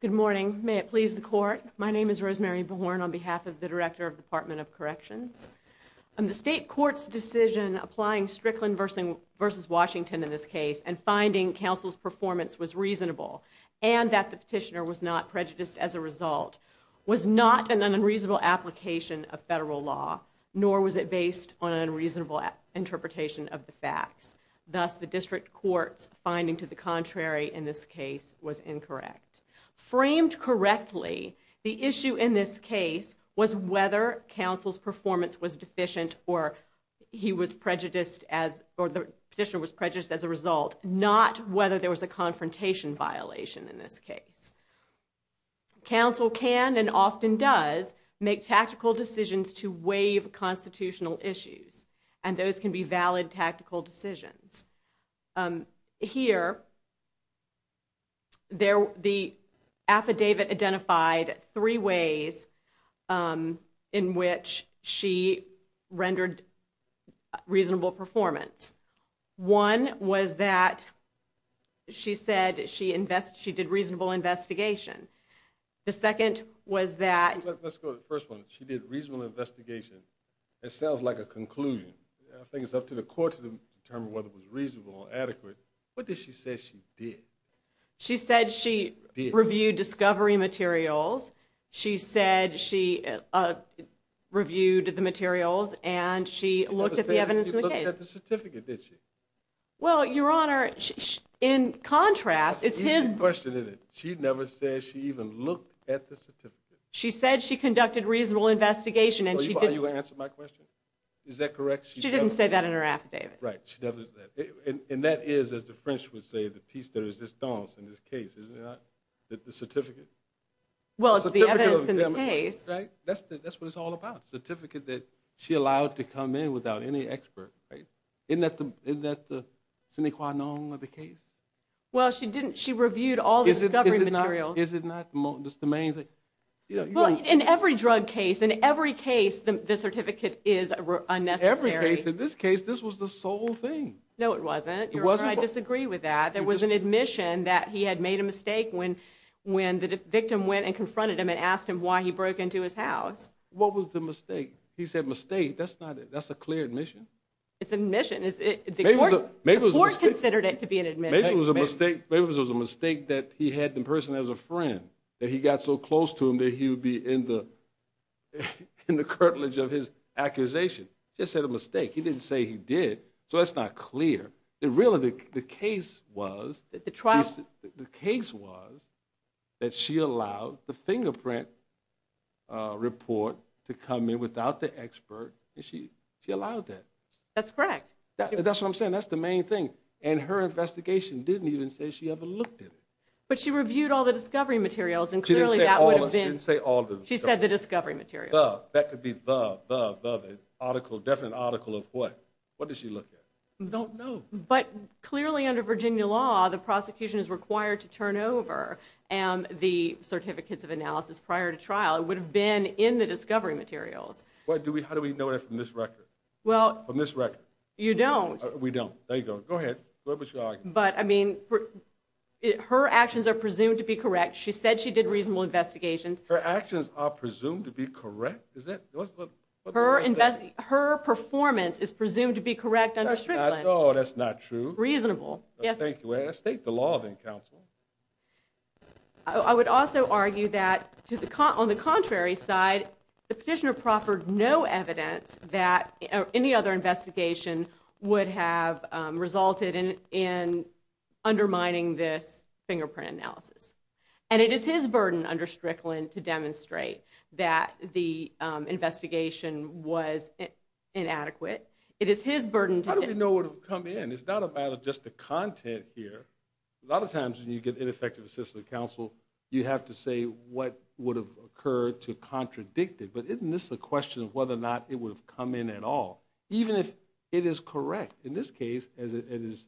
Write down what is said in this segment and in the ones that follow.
Good morning, may it please the court. My name is Rosemary Born on behalf of the Director of the Department of Corrections. The state court's decision applying Strickland v. Washington in this case and finding counsel's performance was reasonable and that the petitioner was not prejudiced as a result was not an unreasonable application of federal law, nor was it based on an unreasonable interpretation of the facts. Thus, the district court's finding to the contrary in this case was incorrect. Framed correctly, the issue in this case was whether counsel's performance was deficient or the petitioner was prejudiced as a result, not whether there was a confrontation violation in this case. Counsel can and often does make tactical decisions to waive constitutional and those can be valid tactical decisions. Here, the affidavit identified three ways in which she rendered reasonable performance. One was that she said she did reasonable investigation. The second was that... Let's go to the first one. She did reasonable investigation. It sounds like a conclusion. I think it's up to the court to determine whether it was reasonable or adequate. What did she say she did? She said she reviewed discovery materials. She said she reviewed the materials and she looked at the evidence in the case. She looked at the evidence. She never said she even looked at the certificate. She said she conducted reasonable investigation. Are you answering my question? Is that correct? She didn't say that in her affidavit. Right, she doesn't. And that is, as the French would say, the piece de resistance in this case, isn't it? The certificate? Well, it's the evidence in the case. That's what it's all about. Certificate that she allowed to come in without any expert, right? Isn't that the case? Well, she didn't. She reviewed all the discovery materials. Is it not the main thing? Well, in every drug case, in every case, the certificate is unnecessary. In this case, this was the sole thing. No, it wasn't. I disagree with that. There was an admission that he had made a mistake when the victim went and confronted him and asked him why he broke into his house. What was the mistake? He said mistake. That's not it. That's a clear admission. It's an admission. The court considered it to be an admission. Maybe it was a mistake that he had the person as a friend, that he got so close to him that he would be in the curtilage of his accusation. Just said a mistake. He didn't say he did, so that's not clear. Really, the case was that she allowed the fingerprint report to come in without the expert. She allowed that. That's correct. That's what I'm saying. That's the main thing, and her investigation didn't even say she ever looked at it. But she reviewed all the discovery materials, and clearly, that would have been... She didn't say all of them. She said the discovery materials. That could be the, the, the, the article, definite article of what? What did she look at? Don't know. But clearly, under Virginia law, the prosecution is required to turn over the certificates of analysis prior to trial. It would have been in the discovery materials. What do we, how do we know that from this record? Well. From this record. You don't. We don't. There you go. Go ahead. What was your argument? But, I mean, her actions are presumed to be correct. She said she did reasonable investigations. Her actions are presumed to be correct? Is that... Her performance is presumed to be correct under Strickland. No, that's not true. Reasonable. Yes. Thank you. Let's take the law then, counsel. I would also argue that to the, on the contrary side, the petitioner proffered no evidence that any other investigation would have resulted in, in undermining this fingerprint analysis. And it is his burden under Strickland to demonstrate that the investigation was inadequate. It is his burden to... How do we know what will come in? It's not about just the content here. A lot of times when you get ineffective assistant counsel, you have to say what would have occurred to contradict it. But isn't this a question of whether or not it would have come in at all? Even if it is correct. In this case, as it is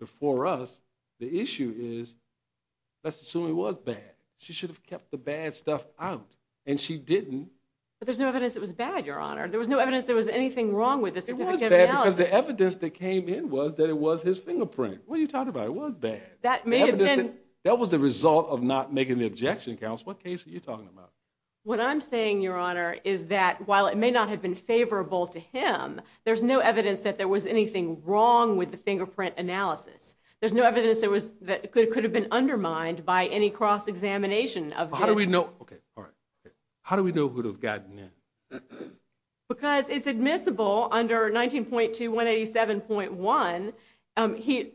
before us, the issue is, let's assume it was bad. She should have kept the bad stuff out. And she didn't. But there's no evidence it was bad, your honor. There was no evidence there was anything wrong with the certificate of analysis. It was bad because the evidence that came in was that it was his fingerprint. What are you saying? That was the result of not making the objection, counsel. What case are you talking about? What I'm saying, your honor, is that while it may not have been favorable to him, there's no evidence that there was anything wrong with the fingerprint analysis. There's no evidence that could have been undermined by any cross-examination of this. How do we know who would have gotten in? Because it's admissible under 19.2187.1.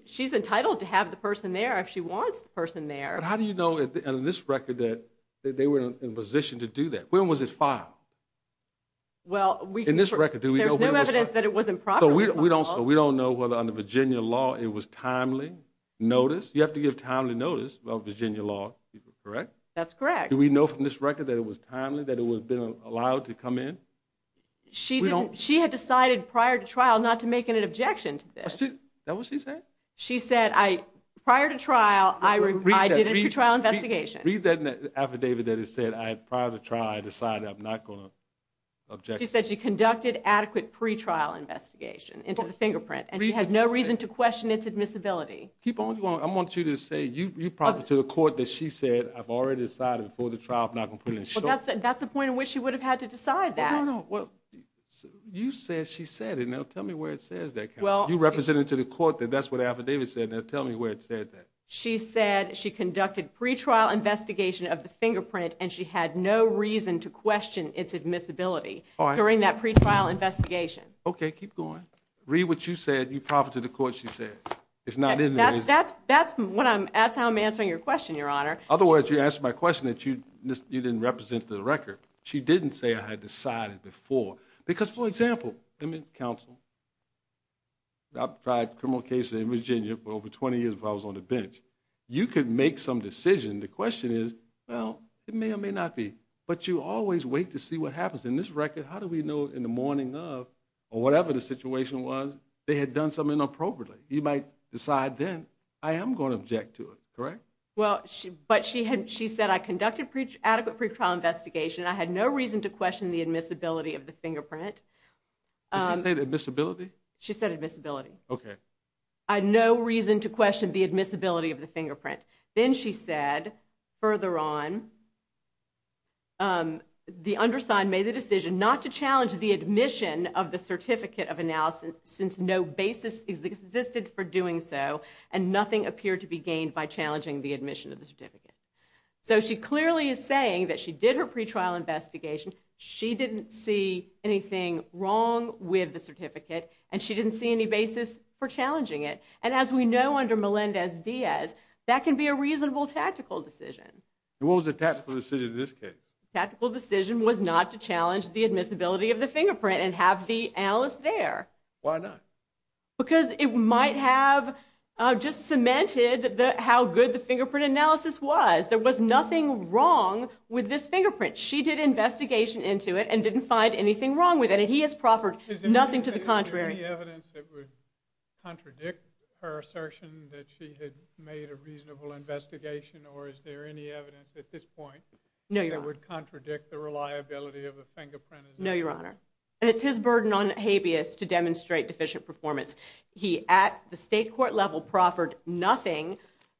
She's entitled to have the person there. But how do you know in this record that they were in a position to do that? When was it filed? In this record, do we know when it was filed? There's no evidence that it wasn't properly filed. So we don't know whether under Virginia law it was timely notice. You have to give timely notice of Virginia law, correct? That's correct. Do we know from this record that it was timely, that it would have been allowed to come in? She had decided prior to trial, I did a pre-trial investigation. Read that affidavit that it said, prior to trial, I decided I'm not going to object. She said she conducted adequate pre-trial investigation into the fingerprint and she had no reason to question its admissibility. Keep going. I want you to say, you probably to the court that she said, I've already decided before the trial, I'm not going to put it in short. That's the point at which she would have had to decide that. No, no. You said she said it. Now tell me where it says that. You represented to the court that that's what the said that. She said she conducted pre-trial investigation of the fingerprint and she had no reason to question its admissibility during that pre-trial investigation. Okay, keep going. Read what you said, you probably to the court she said. It's not in there. That's, that's, that's what I'm, that's how I'm answering your question, your honor. Otherwise you asked my question that you, you didn't represent the record. She didn't say I had decided before. Because for example, counsel, I've tried criminal cases in Virginia for over 20 years before I was on the bench. You could make some decision. The question is, well, it may or may not be, but you always wait to see what happens in this record. How do we know in the morning of or whatever the situation was, they had done something inappropriately. You might decide then, I am going to object to it, correct? Well, but she had, she said, I conducted adequate pre-trial investigation. I had no reason to question the admissibility of the fingerprint. Did she say admissibility? She said admissibility. Okay. I had no reason to question the admissibility of the fingerprint. Then she said, further on, the undersigned made the decision not to challenge the admission of the certificate of analysis since no basis existed for doing so and nothing appeared to be gained by challenging the admission of the certificate. So she clearly is saying that she did her pre-trial investigation. She didn't see anything wrong with the certificate and she didn't see any basis for challenging it. And as we know under Melendez-Diaz, that can be a reasonable tactical decision. What was the tactical decision in this case? Tactical decision was not to challenge the admissibility of the fingerprint and have the just cemented how good the fingerprint analysis was. There was nothing wrong with this fingerprint. She did investigation into it and didn't find anything wrong with it. And he has proffered nothing to the contrary. Is there any evidence that would contradict her assertion that she had made a reasonable investigation or is there any evidence at this point that would contradict the reliability of the fingerprint? No, Your Honor. And it's his burden on habeas to demonstrate deficient performance. He at the state court level proffered nothing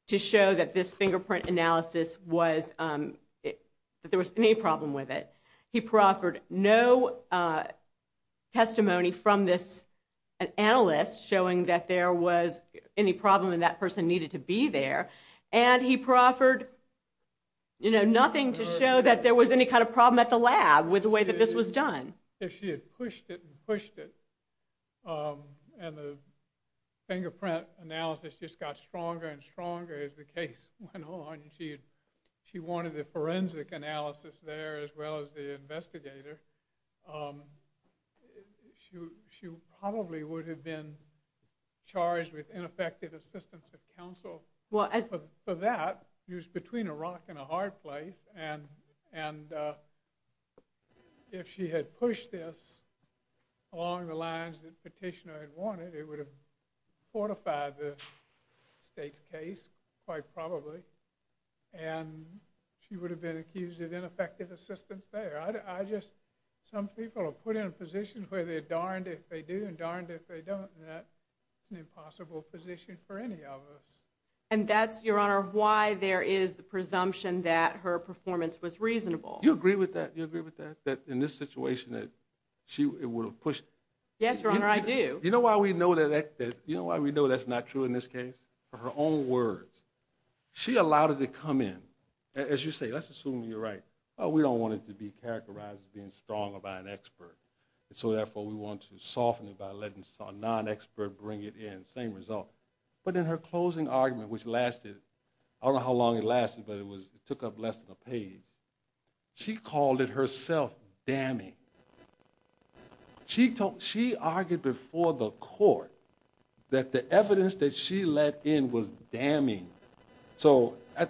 to show that this fingerprint analysis was, that there was any problem with it. He proffered no testimony from this analyst showing that there was any problem and that person needed to be there. And he proffered, you know, nothing to show that there was any kind of problem at the lab with the way that this was done. If she had pushed it and pushed it and the fingerprint analysis just got stronger and stronger as the case went on and she wanted the forensic analysis there as well as the investigator, she probably would have been charged with ineffective assistance of counsel. For that, she was between a rock and a hard place and if she had pushed this along the lines that Petitioner had wanted, it would have fortified the state's case quite probably. And she would have been accused of ineffective assistance there. I just, some people are put in a position where they're darned if they do and darned if they don't and that's an and that's, Your Honor, why there is the presumption that her performance was reasonable. You agree with that? You agree with that? That in this situation that she would have pushed? Yes, Your Honor, I do. You know why we know that, you know why we know that's not true in this case? For her own words. She allowed it to come in. As you say, let's assume you're right. We don't want it to be characterized as being stronger by an expert and so therefore we want to soften it by letting a non-expert bring it in, same result. But in her closing argument which lasted, I don't know how long it lasted but it took up less than a page, she called it herself damning. She argued before the court that the evidence that she let in was damning. So I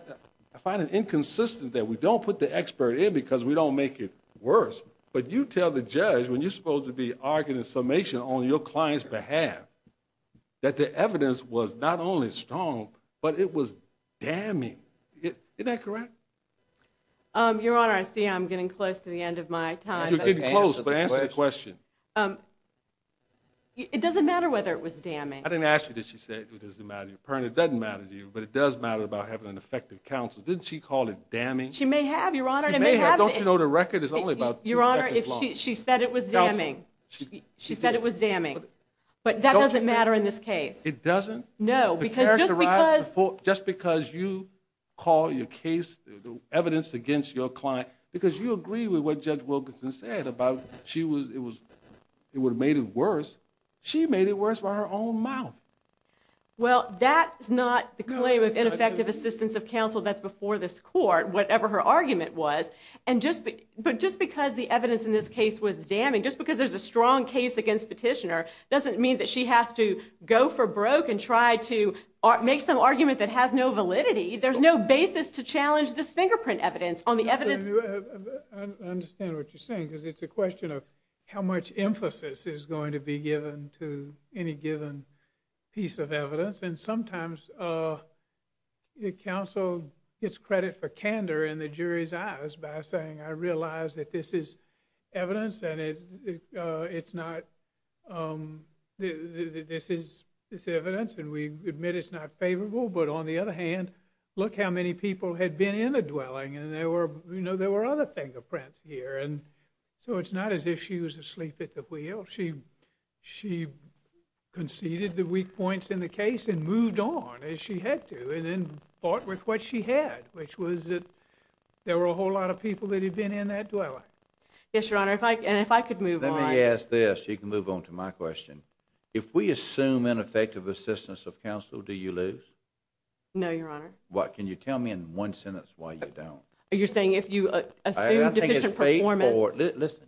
find it inconsistent that we don't put the expert in because we don't make it worse but you tell the judge when you're supposed to be arguing a summation on your client's behalf that the evidence was not only strong but it was damning. Isn't that correct? Your Honor, I see I'm getting close to the end of my time. You're getting close but answer the question. It doesn't matter whether it was damning. I didn't ask you did she say it doesn't matter to you. It doesn't matter to you but it does matter about having an effective counsel. Didn't she call it damning? She may have, Your Honor. Don't you know the record is only about two seconds long? She said it was damning. She said it was damning but that doesn't matter in this case. It doesn't? Just because you call your case evidence against your client because you agree with what Judge Wilkinson said about it would have made it worse, she made it worse by her own mouth. Well that's not the claim of ineffective assistance of counsel that's before this argument was and just but just because the evidence in this case was damning, just because there's a strong case against petitioner doesn't mean that she has to go for broke and try to make some argument that has no validity. There's no basis to challenge this fingerprint evidence on the evidence. I understand what you're saying because it's a question of how much emphasis is going to be given to any given piece of evidence and sometimes uh the counsel gets credit for candor in the jury's eyes by saying I realize that this is evidence and it's uh it's not um this is this evidence and we admit it's not favorable but on the other hand look how many people had been in the dwelling and there were you know there were other fingerprints here and so it's not as if she was asleep at the wheel. She conceded the weak points in the case and moved on as she had to and then fought with what she had which was that there were a whole lot of people that had been in that dwelling. Yes your honor if I and if I could move on. Let me ask this you can move on to my question. If we assume ineffective assistance of counsel do you lose? No your honor. What can you tell me in one sentence why you don't? You're saying if you assume deficient performance. Listen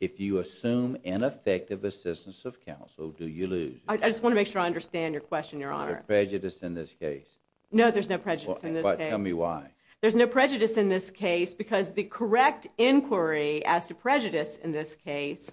if you assume ineffective assistance of counsel do you lose? I just want to make sure I understand your question your honor. Prejudice in this case. No there's no prejudice in this. Tell me why. There's no prejudice in this case because the correct inquiry as to prejudice in this case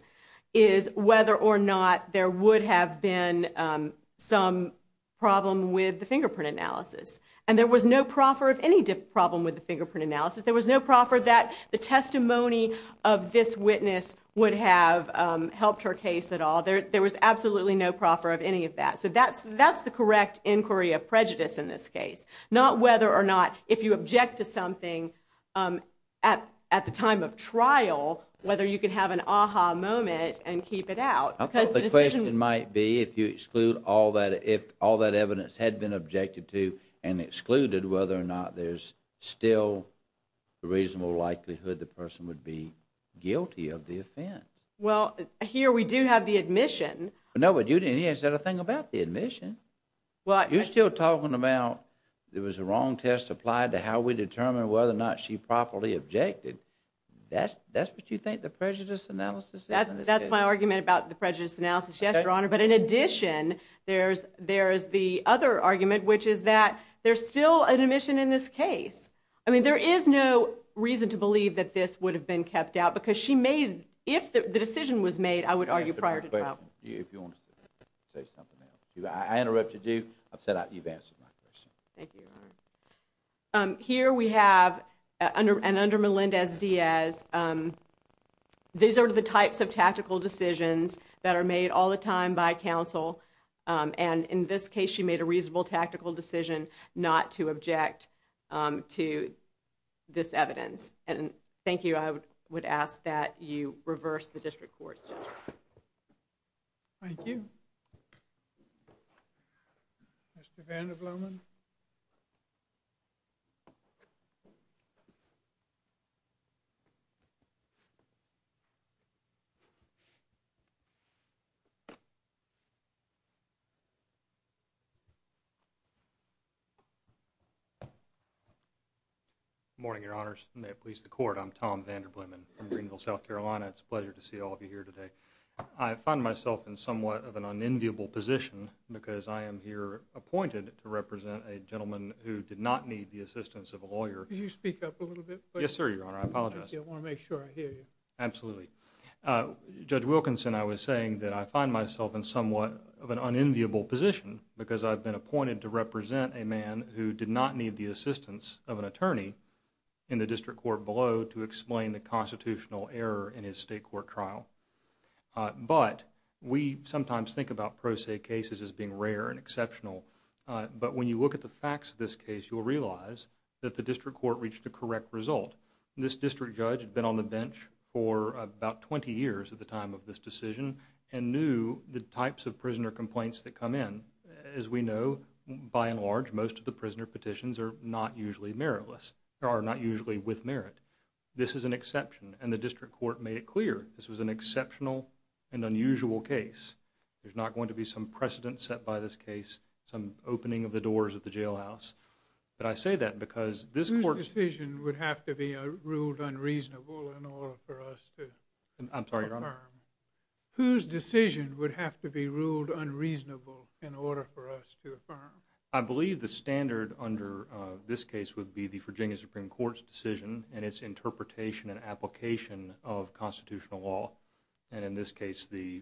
is whether or not there would have been um some problem with the fingerprint analysis and there was no proffer of any problem with the fingerprint analysis. There was no proffer that the testimony of this witness would have helped her case at all. There there was absolutely no proffer of any of that so that's that's the correct inquiry of prejudice in this case. Not whether or not if you object to something um at at the time of trial whether you can have an aha moment and keep it out. I thought the question might be if you exclude all that if all that evidence had been objected to and excluded whether or not there's still a reasonable likelihood the person would be guilty of the offense. Well here we do have the admission. No but you didn't even said a thing about the admission. Well you're still talking about there was a wrong test applied to how we determine whether or not she properly objected. That's that's what you think the prejudice analysis. That's that's my argument about the prejudice analysis yes your honor but in addition there's there's the other argument which is that there's still an admission in this case. I mean there is no reason to believe that this would have been kept out because she made if the decision was made I would argue prior to trial. If you want to say something else. I interrupted you. I've said you've answered my question. Thank you your honor. Here we have under and under Melendez Diaz um these are the types of tactical decisions that are made all the time by counsel um and in this case she made a reasonable tactical decision not to object um to this evidence and thank you. I would ask that you reverse the district court's judgment. Thank you. Mr. Vanderblom. Good morning your honors. May it please the court. I'm Tom Vanderblom in Greenville, South Carolina. It's a pleasure to see all of you here today. I find myself in somewhat of an unenviable position because I am here appointed to represent a gentleman who did not need the assistance of a lawyer. Could you speak up a little bit? Yes sir your honor. I apologize. I want to make sure I hear you. Absolutely. Judge Wilkinson, I was saying that I find myself in somewhat of an unenviable position because I've been appointed to represent a man who did not need the assistance of an attorney in the district court below to explain the constitutional error in his state court trial but we sometimes think about pro se cases as being rare and exceptional but when you look at the facts of this case you'll realize that the district court reached the correct result. This district judge had been on the bench for about 20 years at the time of this decision and knew the types of prisoner complaints that come in. As we know, by and large, most of the prisoner petitions are not usually meritless or are not usually with merit. This is an exception and the district court made it clear this was an exceptional and unusual case. There's not going to be some precedent set by this case, some opening of the doors of the jailhouse but I say that because this court...... ruled unreasonable in order for us to... I'm sorry, Your Honor.... whose decision would have to be ruled unreasonable in order for us to affirm? I believe the standard under this case would be the Virginia Supreme Court's decision and its interpretation and application of constitutional law and in this case the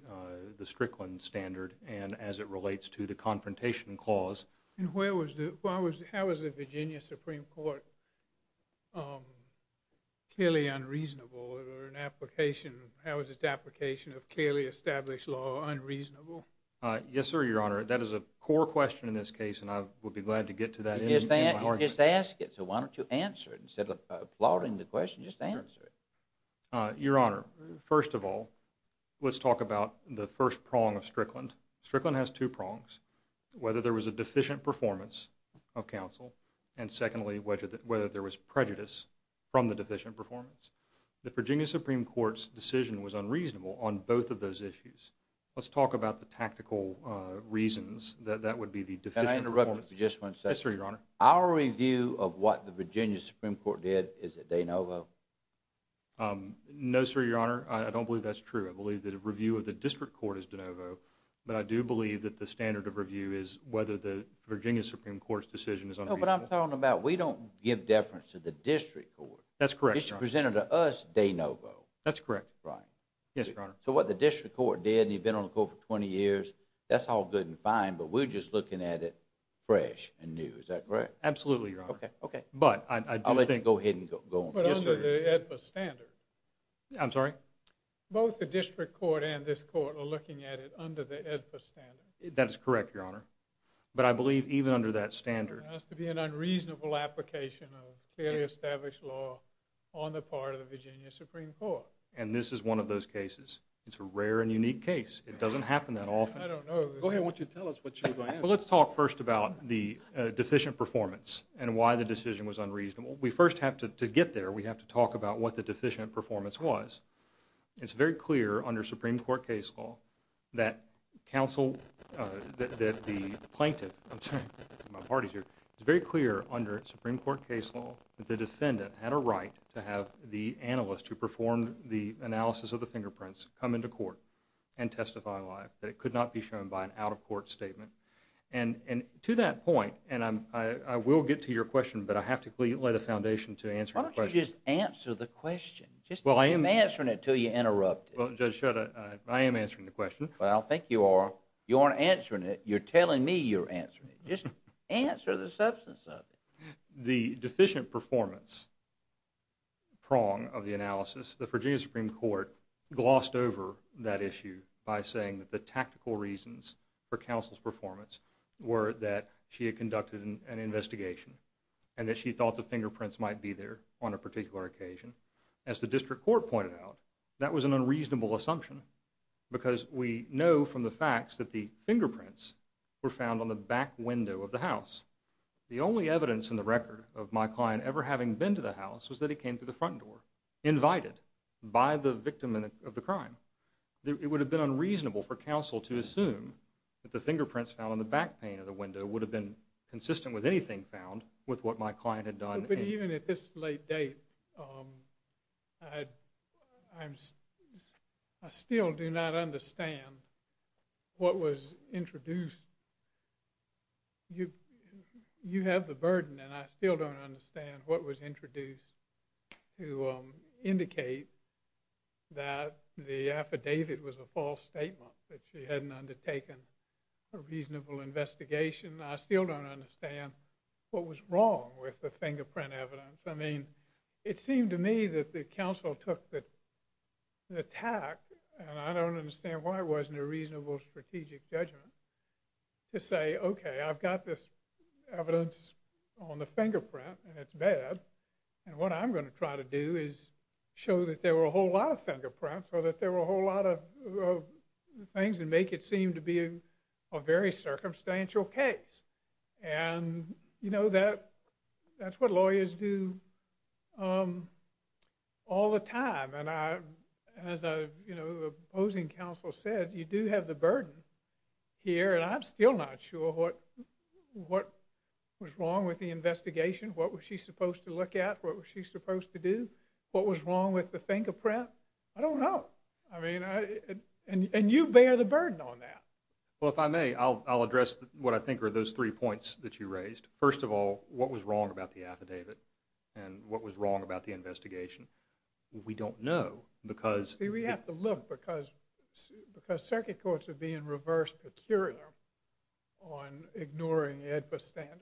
Strickland standard and as it relates to the Confrontation Clause. And where was the... how was the Virginia Supreme Court clearly unreasonable or an application... how was its application of clearly established law unreasonable? Yes, sir, Your Honor. That is a core question in this case and I would be glad to get to that in my argument. Just ask it so why don't you answer it instead of plotting the question, just answer it. Your Honor, first of all, let's talk about the first prong of Strickland. Strickland has two prongs. Whether there was a deficient performance of counsel and secondly whether there was prejudice from the deficient performance. The Virginia Supreme Court's decision was unreasonable on both of those issues. Let's talk about the tactical reasons that that would be the deficient... Can I interrupt for just one second? Yes, sir, Your Honor. Our review of what the Virginia Supreme Court did, is it de novo? No, sir, Your Honor. I don't believe that's true. I believe that a review of the district court is de novo, but I do believe that the standard of review is whether the Virginia Supreme Court's decision is... No, but I'm talking about we don't give deference to the district court. That's correct, Your Honor. It's presented to us de novo. That's correct. Right. Yes, Your Honor. So what the district court did and you've been on the court for 20 years, that's all good and fine, but we're just looking at it fresh and new. Is that correct? Absolutely, Your Honor. Okay, okay. But I do think... I'll let you go ahead and go on. But under the AEDPA standard... I'm sorry? Both the district court and this court are looking at it under the AEDPA standard. That is correct, Your Honor. But I believe even under that standard... There has to be an unreasonable application of fairly established law on the part of the Virginia Supreme Court. And this is one of those cases. It's a rare and unique case. It doesn't happen that often. I don't know. Go ahead. Why don't you tell us what you're going to answer? Well, let's talk first about the deficient performance and why the decision was unreasonable. We first have to get there. We have to talk about what the deficient performance was. It's very clear under Supreme Court case law that counsel... that the plaintiff... I'm sorry. My party's here. It's very clear under Supreme Court case law that the defendant had a right to have the analyst who performed the analysis of the fingerprints come into court and testify live, that it could not be shown by an out-of-court statement. And to that point... And I will get to your question, but I have to lay the foundation to answer your question. Just... Well, I am... I'm not answering it until you interrupt it. Well, Judge Shutt, I am answering the question. Well, I think you are. You aren't answering it. You're telling me you're answering it. Just answer the substance of it. The deficient performance prong of the analysis, the Virginia Supreme Court glossed over that issue by saying that the tactical reasons for counsel's performance were that she had conducted an investigation and that she thought the fingerprints might be there on a particular occasion. As the district court pointed out, that was an unreasonable assumption because we know from the facts that the fingerprints were found on the back window of the house. The only evidence in the record of my client ever having been to the house was that he came through the front door, invited by the victim of the crime. It would have been unreasonable for counsel to assume that the fingerprints found on the back pane of the window would have been consistent with anything found with what my client had done. Even at this late date, I still do not understand what was introduced. You have the burden and I still don't understand what was introduced to indicate that the affidavit was a false statement, that she hadn't undertaken a reasonable investigation. I still don't understand what was wrong with the fingerprint evidence. It seemed to me that the counsel took the attack, and I don't understand why it wasn't a reasonable strategic judgment, to say, okay, I've got this evidence on the fingerprint and it's bad, and what I'm going to try to do is show that there were a whole lot of fingerprints or that there were a whole lot of things and make it seem to be a very circumstantial case, and, you know, that's what lawyers do all the time, and as a opposing counsel said, you do have the burden here, and I'm still not sure what was wrong with the investigation, what was she supposed to look at, what was she supposed to do, what was wrong with the fingerprint. I don't know. I mean, and you bear the burden on that. Well, if I may, I'll address what I think are those three points that you raised. First of all, what was wrong about the affidavit, and what was wrong about the investigation? We don't know, because… See, we have to look, because circuit courts are being reversed peculiarly on ignoring AEDPA standards.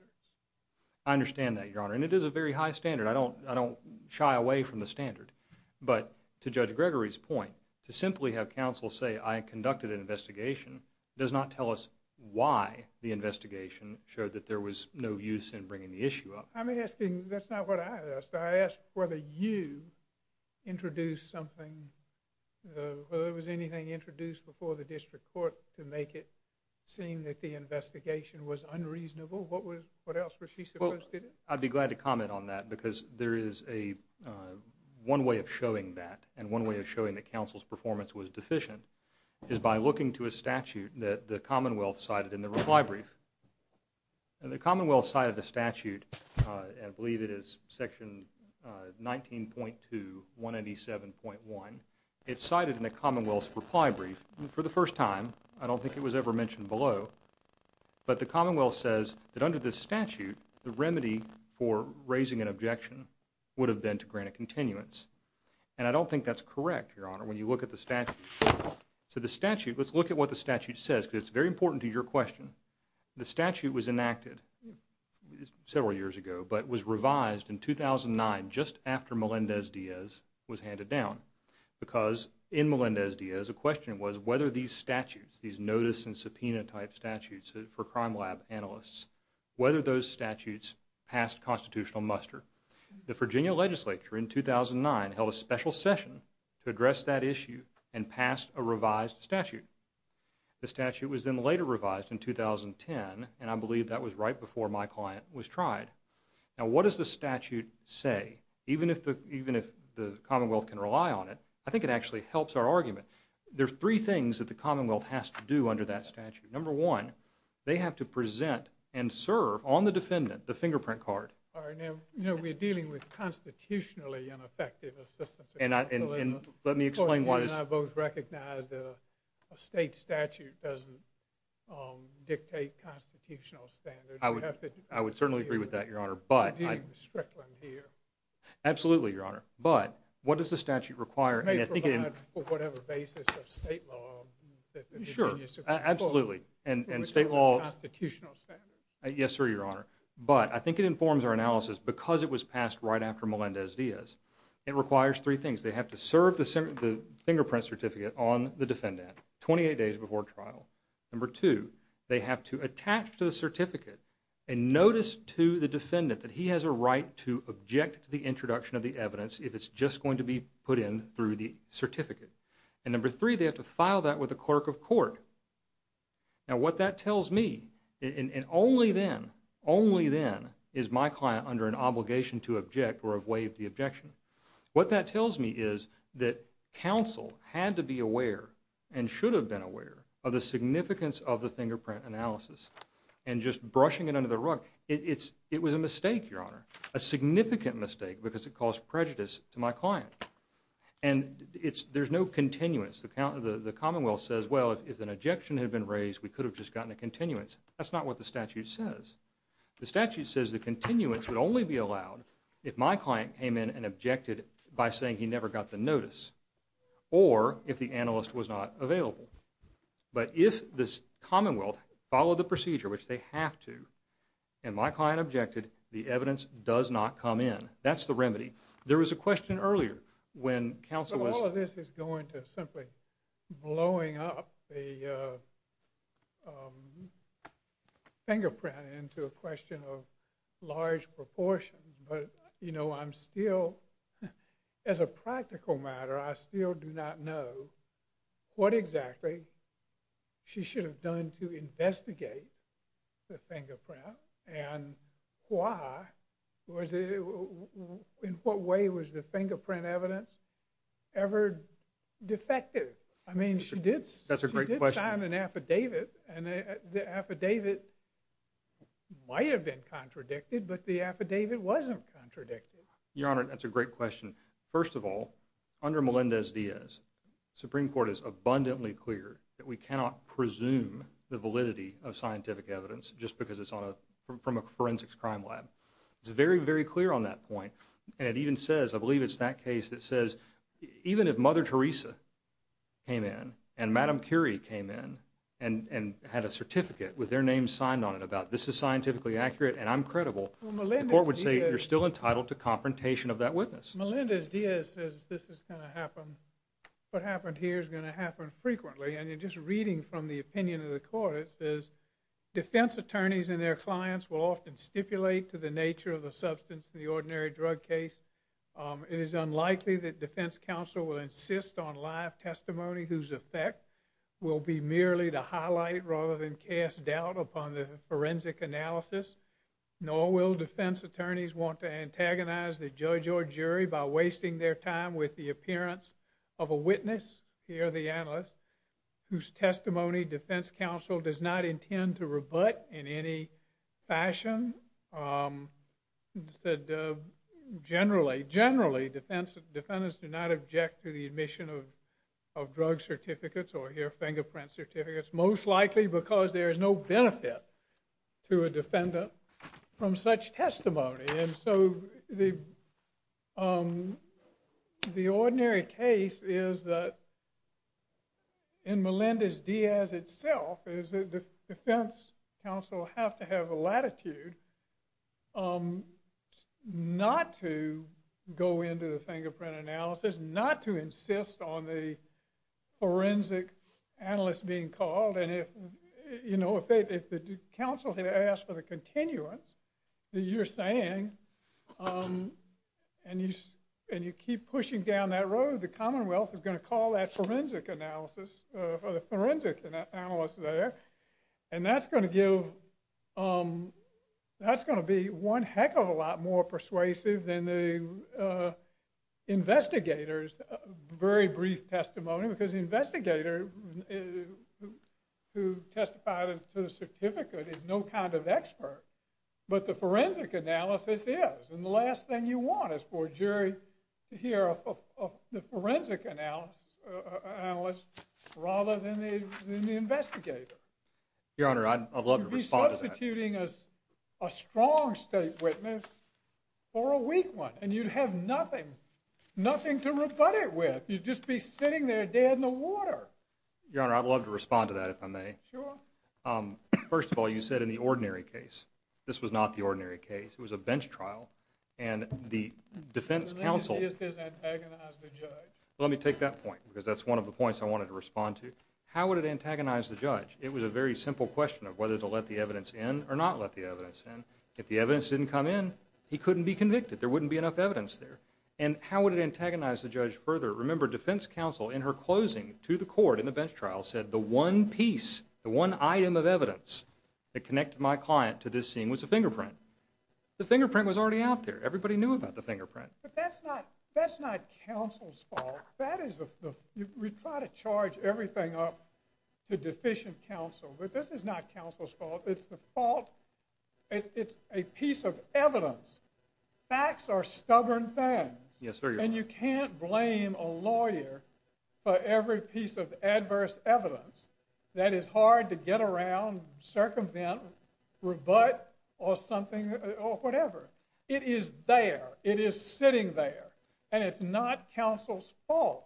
I understand that, Your Honor, and it is a very high standard. I don't shy away from the standard, but to Judge Gregory's point, to simply have an investigation does not tell us why the investigation showed that there was no use in bringing the issue up. I'm asking, that's not what I asked. I asked whether you introduced something, whether there was anything introduced before the district court to make it seem that the investigation was unreasonable. What else was she supposed to do? Well, I'd be glad to comment on that, because there is one way of showing that, and one way of showing that is by looking to a statute that the Commonwealth cited in the reply brief. The Commonwealth cited a statute, I believe it is section 19.2, 187.1. It's cited in the Commonwealth's reply brief. For the first time, I don't think it was ever mentioned below, but the Commonwealth says that under this statute, the remedy for raising an objection would have been to grant a continuance, and I don't think that's correct, Your Honor, when you look at the statute. So the statute, let's look at what the statute says, because it's very important to your question. The statute was enacted several years ago, but was revised in 2009, just after Melendez-Diaz was handed down, because in Melendez-Diaz, a question was whether these statutes, these notice and subpoena type statutes for crime lab analysts, whether those statutes passed constitutional muster. The Virginia legislature in 2009 held a special session to address that issue and passed a revised statute. The statute was then later revised in 2010, and I believe that was right before my client was tried. Now what does the statute say? Even if the Commonwealth can rely on it, I think it actually helps our argument. There are three things that the Commonwealth has to do under that statute. Number one, they have to present and serve on the defendant the fingerprint card. All right, now, you know, we're dealing with constitutionally ineffective assistance. And I, and let me explain what is. You and I both recognize that a state statute doesn't dictate constitutional standards. I would, I would certainly agree with that, Your Honor, but. We're dealing with Strickland here. Absolutely, Your Honor. But what does the statute require, and I think it. It may provide for whatever basis of state law that the Virginia Supreme Court. Sure, absolutely. And state law. Which is a constitutional standard. Yes, sir, Your Honor. But I think it informs our analysis because it was passed right after Melendez Diaz. It requires three things. They have to serve the fingerprint certificate on the defendant 28 days before trial. Number two, they have to attach to the certificate and notice to the defendant that he has a right to object to the introduction of the evidence if it's just going to be put in through the certificate. And number three, they have to file that with the clerk of court. Now what that tells me, and only then, only then is my client under an obligation to object or have waived the objection. What that tells me is that counsel had to be aware and should have been aware of the significance of the fingerprint analysis. And just brushing it under the rug, it's, it was a mistake, Your Honor. A significant mistake because it caused prejudice to my client. And it's, there's no continuance. The commonwealth says, well, if an objection had been raised, we could have just gotten a continuance. That's not what the statute says. The statute says the continuance would only be allowed if my client came in and objected by saying he never got the notice. Or if the analyst was not available. But if the commonwealth followed the procedure, which they have to, and my client objected, the evidence does not come in. That's the remedy. There was a question earlier when counsel was. All of this is going to simply blowing up the fingerprint into a question of large proportion. But, you know, I'm still, as a practical matter, I still do not know what exactly she should have done to investigate the fingerprint and why, was it, in what way was the fingerprint evidence ever defective? I mean, she did sign an affidavit and the affidavit might have been contradicted, but the affidavit wasn't contradicted. Your Honor, that's a great question. First of all, under Melendez-Diaz, Supreme Court is abundantly clear that we cannot presume the validity of scientific evidence just because it's on a, from a forensics crime lab. It's very, very clear on that point. And it even says, I believe it's that case that says even if Mother Teresa came in and Madam Curie came in and had a certificate with their name signed on it about this is scientifically accurate and I'm credible, the court would say you're still entitled to confrontation of that witness. Melendez-Diaz says this is going to happen. What happened here is going to happen frequently. And just reading from the opinion of the court, it says defense attorneys and their clients will often stipulate to the nature of the substance in the ordinary drug case. It is unlikely that defense counsel will insist on live testimony whose effect will be merely to highlight rather than cast doubt upon the forensic analysis. Nor will defense attorneys want to antagonize the judge or jury by wasting their time with the appearance of a witness, here the analyst, whose testimony defense counsel does not intend to rebut in any fashion. Generally, generally defendants do not object to the admission of drug certificates or here fingerprint certificates, most likely because there is no benefit to a defendant from such testimony. And so the ordinary case is that in Melendez-Diaz itself is that the defense counsel have to have a latitude not to go into the fingerprint analysis, not to insist on the forensic analyst being called. You know, if the counsel has asked for the continuance that you're saying, and you keep pushing down that road, the Commonwealth is going to call that forensic analysis for the forensic analyst there. And that's going to give, that's going to be one heck of a lot more persuasive than the investigator's very brief testimony. Because the investigator who testified to the certificate is no kind of expert. But the forensic analysis is. And the last thing you want is for a jury to hear of the forensic analyst rather than the investigator. Your Honor, I'd love to respond to that. You're substituting a strong state witness for a weak one and you'd have nothing, nothing to rebut it with. You'd just be sitting there dead in the water. Your Honor, I'd love to respond to that if I may. Sure. First of all, you said in the ordinary case. This was not the ordinary case. It was a bench trial and the defense counsel. Melendez-Diaz has antagonized the judge. Let me take that point because that's one of the points I wanted to respond to. How would it antagonize the judge? It was a very simple question of whether to let the evidence in or not let the evidence in. If the evidence didn't come in, he couldn't be convicted. There wouldn't be enough evidence there. And how would it antagonize the judge further? Remember, defense counsel in her closing to the court in the bench trial said the one piece, the one item of evidence that connected my client to this scene was the fingerprint. The fingerprint was already out there. Everybody knew about the fingerprint. But that's not counsel's fault. We try to charge everything up to deficient counsel. But this is not counsel's fault. It's the fault. It's a piece of evidence. Facts are stubborn things. Yes, sir. And you can't blame a lawyer for every piece of adverse evidence that is hard to get around, circumvent, rebut or something or whatever. It is there. It is sitting there. And it's not counsel's fault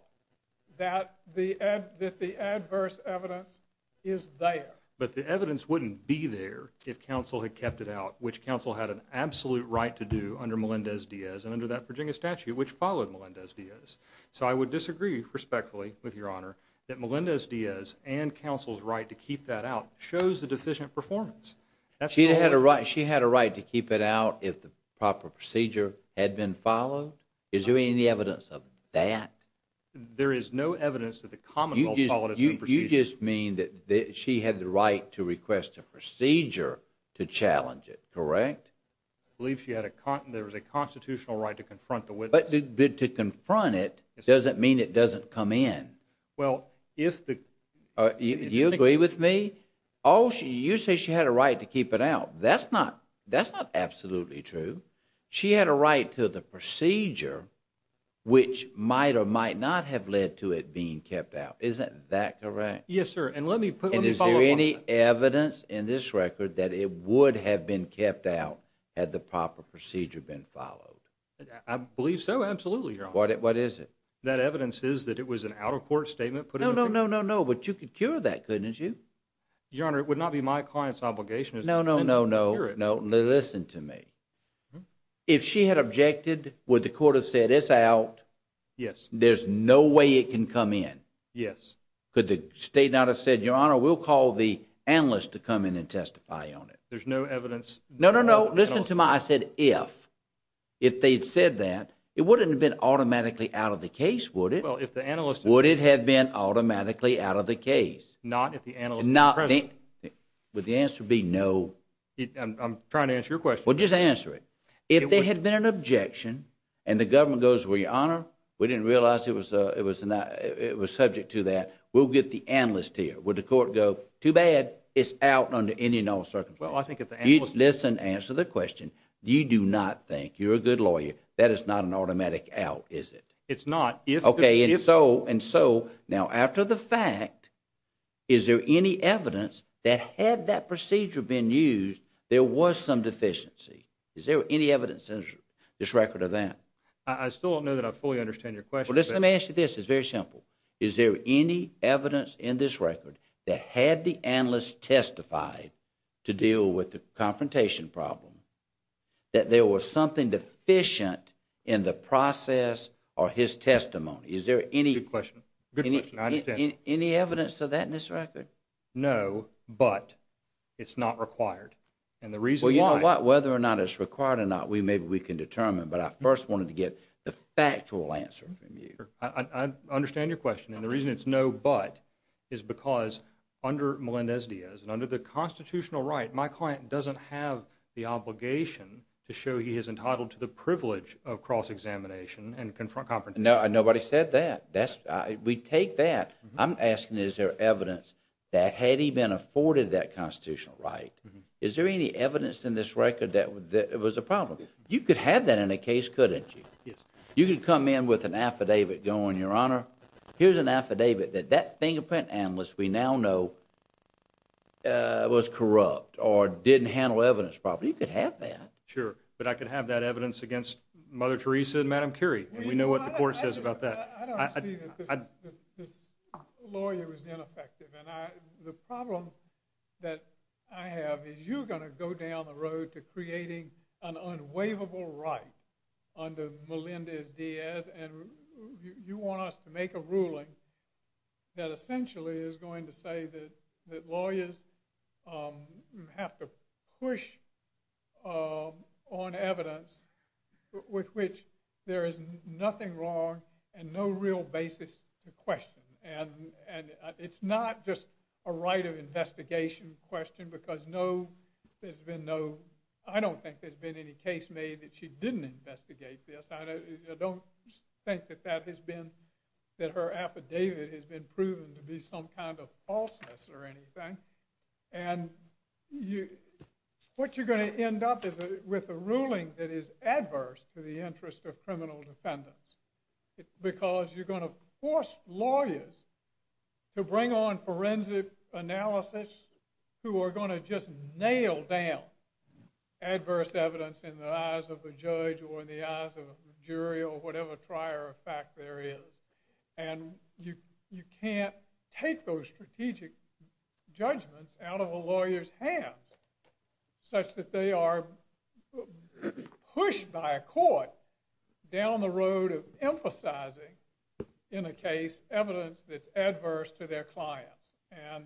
that the that the adverse evidence is there. But the evidence wouldn't be there if counsel had kept it out, which counsel had an absolute right to do under Melendez Diaz and under that Virginia statute, which followed Melendez Diaz. So I would disagree respectfully with your honor that Melendez Diaz and counsel's right to keep that out shows the deficient performance. She had a right. She had a right to keep it out if the proper procedure had been followed. Is there any evidence of that? There is no evidence that the common law. You just mean that she had the right to request a procedure to challenge it, correct? I believe she had a there was a constitutional right to confront the witness. But to confront it doesn't mean it doesn't come in. Well, if you agree with me. Oh, you say she had a right to keep it out. That's not that's not absolutely true. She had a right to the procedure, which might or might not have led to it being kept out. Isn't that correct? Yes, sir. And let me put any evidence in this record that it would have been kept out had the proper procedure been followed. I believe so. Absolutely. What is it? That evidence is that it was an out of court statement. No, no, no, no, no. But you could cure that, couldn't you? Your Honor, it would not be my client's obligation. No, no, no, no, no. Listen to me. If she had objected, would the court have said it's out? Yes. There's no way it can come in. Yes. Could the state not have said, Your Honor, we'll call the analyst to come in and testify on it. There's no evidence. No, no, no. Listen to my I said if if they'd said that it wouldn't have been automatically out of the case, would it? Well, if the analyst would it have been automatically out of the case? Not if the analyst would the answer be no. I'm trying to answer your question. Well, just answer it. If there had been an objection and the government goes, were you honor? We didn't realize it was it was not it was subject to that. We'll get the analyst here. Would the court go too bad? It's out under any and all circumstances. Well, I think if you listen, answer the question. You do not think you're a good lawyer. That is not an automatic out, is it? It's not. OK, and so and so now after the fact, is there any evidence that had that procedure been used? There was some deficiency. Is there any evidence in this record of that? I still don't know that I fully understand your question. Let me ask you this is very simple. Is there any evidence in this record that had the analyst testified to deal with the testimony? Is there any question? Any evidence of that in this record? No, but it's not required. And the reason why, whether or not it's required or not, we maybe we can determine. But I first wanted to get the factual answer from you. I understand your question. And the reason it's no, but is because under Melendez Diaz and under the constitutional right, my client doesn't have the obligation to show he is entitled to the privilege of cross examination and confront. No, nobody said that. That's we take that. I'm asking, is there evidence that had he been afforded that constitutional right? Is there any evidence in this record that it was a problem? You could have that in a case, couldn't you? Yes, you could come in with an affidavit going, Your Honor. Here's an affidavit that that fingerprint analyst we now know. Was corrupt or didn't handle evidence, probably could have that. Sure, but I could have that evidence against Mother Teresa and Madam Curie. And we know what the court says about that. I don't see that this lawyer is ineffective. And the problem that I have is you're going to go down the road to creating an unwaivable right under Melendez Diaz. And you want us to make a ruling that essentially is going to say that lawyers have to push on evidence with which there is nothing wrong and no real basis to question. And it's not just a right of investigation question because no, there's been no, I don't think there's been any case made that she didn't investigate this. I don't think that that has been, that her affidavit has been proven to be some kind of falseness or anything. And what you're going to end up is with a ruling that is adverse to the interest of criminal defendants. Because you're going to force lawyers to bring on forensic analysis who are going to just nail down adverse evidence in the eyes of a judge or in the eyes of a jury or whatever trier of fact there is. And you can't take those strategic judgments out of a lawyer's hands such that they are pushed by a court down the road of emphasizing in a case evidence that's adverse to their clients. And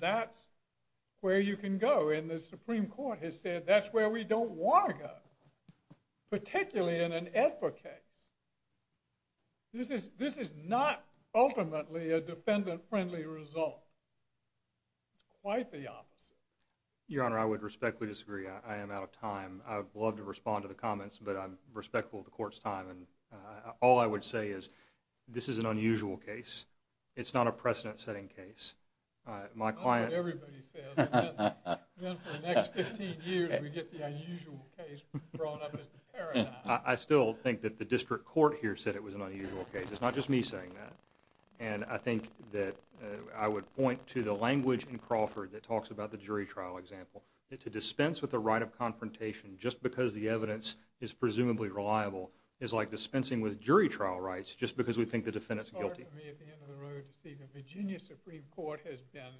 that's where you can go. And the Supreme Court has said that's where we don't want to go, particularly in an AEDPA case. This is, this is not ultimately a defendant friendly result, quite the opposite. Your Honor, I would respectfully disagree. I am out of time. I would love to respond to the comments, but I'm respectful of the court's time. And all I would say is this is an unusual case. It's not a precedent setting case. My client. Everybody says, then for the next 15 years we get the unusual case brought up as the paradigm. I still think that the district court here said it was an unusual case. It's not just me saying that. And I think that I would point to the language in Crawford that talks about the jury trial example. To dispense with the right of confrontation just because the evidence is presumably reliable is like dispensing with jury trial rights just because we think the defendant's guilty. It's hard for me at the end of the road to see the Virginia Supreme Court has been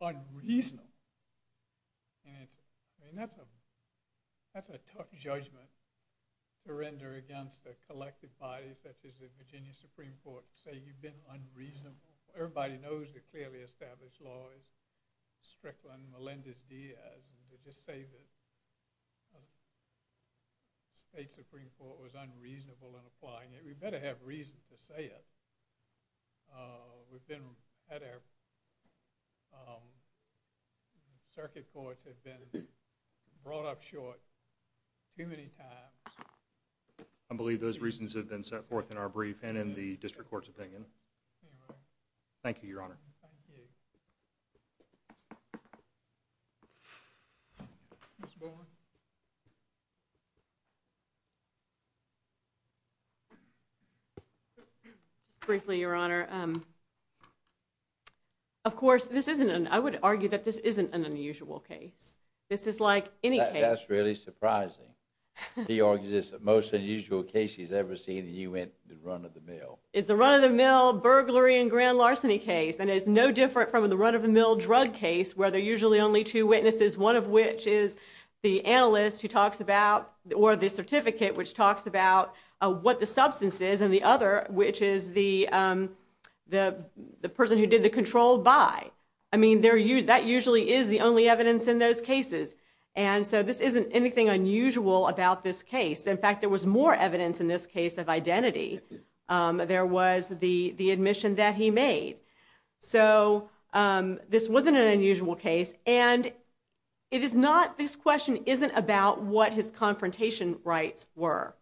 unreasonable. And it's, I mean that's a, that's a tough judgment. Surrender against a collective body such as the Virginia Supreme Court to say you've been unreasonable. Everybody knows the clearly established lawyers, Strickland, Melendez-Diaz, and to just say that the state Supreme Court was unreasonable in applying it. We better have reason to say it. We've been at our, circuit courts have been brought up short. Too many times. I believe those reasons have been set forth in our brief and in the district court's opinion. Thank you, Your Honor. Briefly, Your Honor. Of course, this isn't an, I would argue that this isn't an unusual case. This is like any case. That's really surprising. He argues it's the most unusual case he's ever seen in the U.N., the run-of-the-mill. It's a run-of-the-mill burglary and grand larceny case. And it's no different from the run-of-the-mill drug case where there's usually only two witnesses. One of which is the analyst who talks about, or the certificate which talks about what the substance is. And the other, which is the person who did the controlled buy. I mean, that usually is the only evidence in those cases. And so, this isn't anything unusual about this case. In fact, there was more evidence in this case of identity. There was the admission that he made. So, this wasn't an unusual case. And it is not, this question isn't about what his confrontation rights were.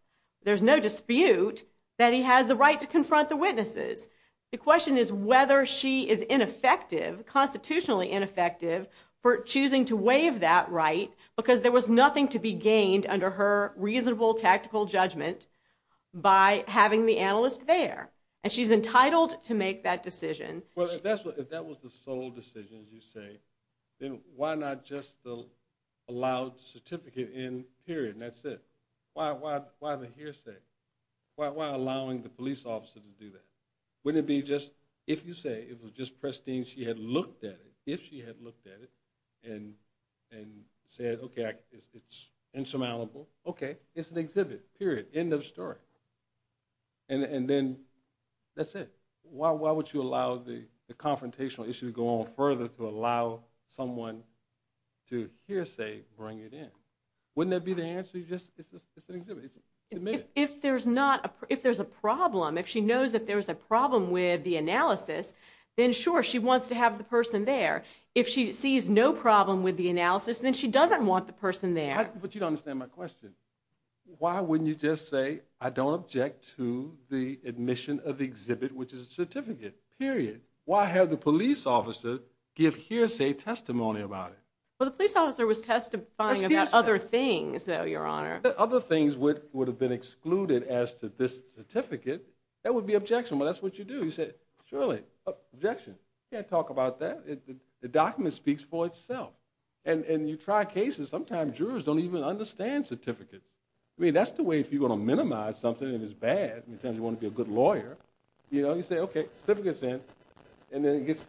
There's no dispute that he has the right to confront the witnesses. The question is whether she is ineffective, constitutionally ineffective, for choosing to waive that right because there was nothing to be gained under her reasonable, tactical judgment by having the analyst there. And she's entitled to make that decision. Well, if that was the sole decision, as you say, then why not just allow the certificate in, period, and that's it? Why the hearsay? Why allowing the police officer to do that? Wouldn't it be just, if you say it was just pristine, she had looked at it, if she had looked at it, and said, okay, it's insurmountable, okay, it's an exhibit, period, end of story. And then, that's it. Why would you allow the confrontational issue to go on further to allow someone to hearsay, bring it in? Wouldn't that be the answer? You just, it's an exhibit, it's admitted. If there's not, if there's a problem, if she knows that there's a problem with the analysis, then sure, she wants to have the person there. If she sees no problem with the analysis, then she doesn't want the person there. But you don't understand my question. Why wouldn't you just say, I don't object to the admission of the exhibit, which is a certificate, period? Why have the police officer give hearsay testimony about it? Well, the police officer was testifying about other things, though, Your Honor. Other things would have been excluded as to this certificate. That would be objectionable. That's what you do. You say, surely, objection. Can't talk about that. The document speaks for itself. And you try cases, sometimes jurors don't even understand certificates. I mean, that's the way, if you're going to minimize something and it's bad, and you want to be a good lawyer, you know, you say, OK, certificate's in, and then it gets,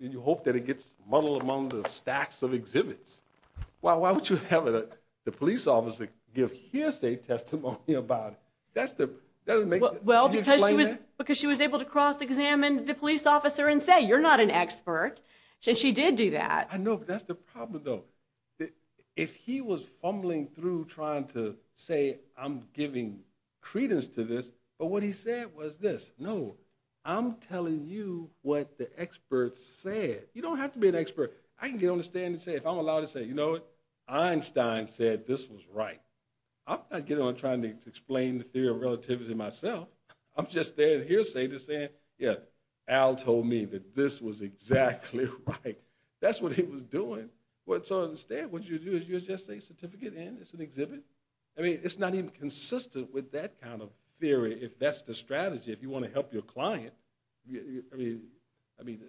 you hope that it gets muddled among the stacks of exhibits. Well, why would you have the police officer give hearsay testimony about it? That doesn't make sense. Well, because she was able to cross-examine the police officer and say, you're not an expert, and she did do that. I know, but that's the problem, though. If he was fumbling through trying to say, I'm giving credence to this, but what he said was this, no, I'm telling you what the experts said. You don't have to be an expert. I can get on the stand and say, if I'm allowed to say, you know what? Einstein said this was right. I'm not getting on trying to explain the theory of relativity myself. I'm just there at hearsay just saying, yeah, Al told me that this was exactly right. That's what he was doing. Well, so instead, what you do is you just say, certificate's in, it's an exhibit? I mean, it's not even consistent with that kind of theory if that's the strategy. If you want to help your client, I mean,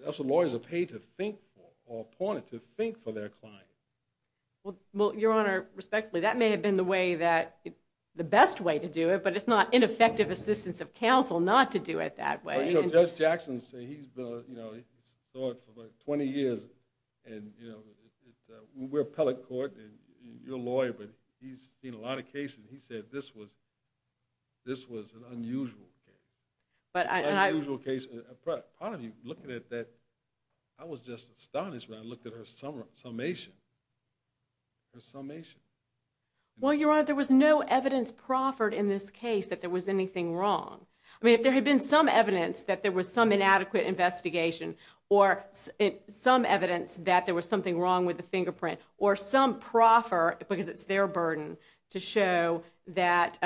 that's what lawyers are paid to think for or appointed to think for their clients. Well, Your Honor, respectfully, that may have been the way that, the best way to do it, but it's not ineffective assistance of counsel not to do it that way. Well, you know, Judge Jackson said he's been, you know, he's thought for about 20 years. And, you know, we're appellate court and you're a lawyer, but he's seen a lot of cases. He said this was, this was an unusual case, unusual case. Part of me looking at that, I was just astonished when I looked at her summation, her summation. Well, Your Honor, there was no evidence proffered in this case that there was anything wrong. I mean, if there had been some evidence that there was some inadequate investigation or some evidence that there was something wrong with the fingerprint or some proffer, because it's their burden to show that,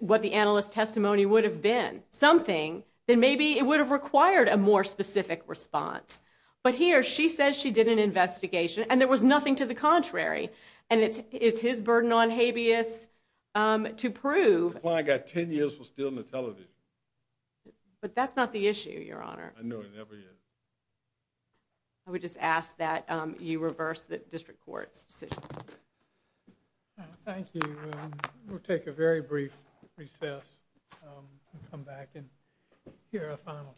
what the analyst's testimony would have been, something, then maybe it would have required a more specific response. But here, she says she did an investigation and there was nothing to the contrary. And it's, it's his burden on habeas to prove. Well, I got 10 years for stealing the television. But that's not the issue, Your Honor. I know it never is. I would just ask that you reverse the district court's decision. Thank you. We'll take a very brief recess and come back and hear a final case.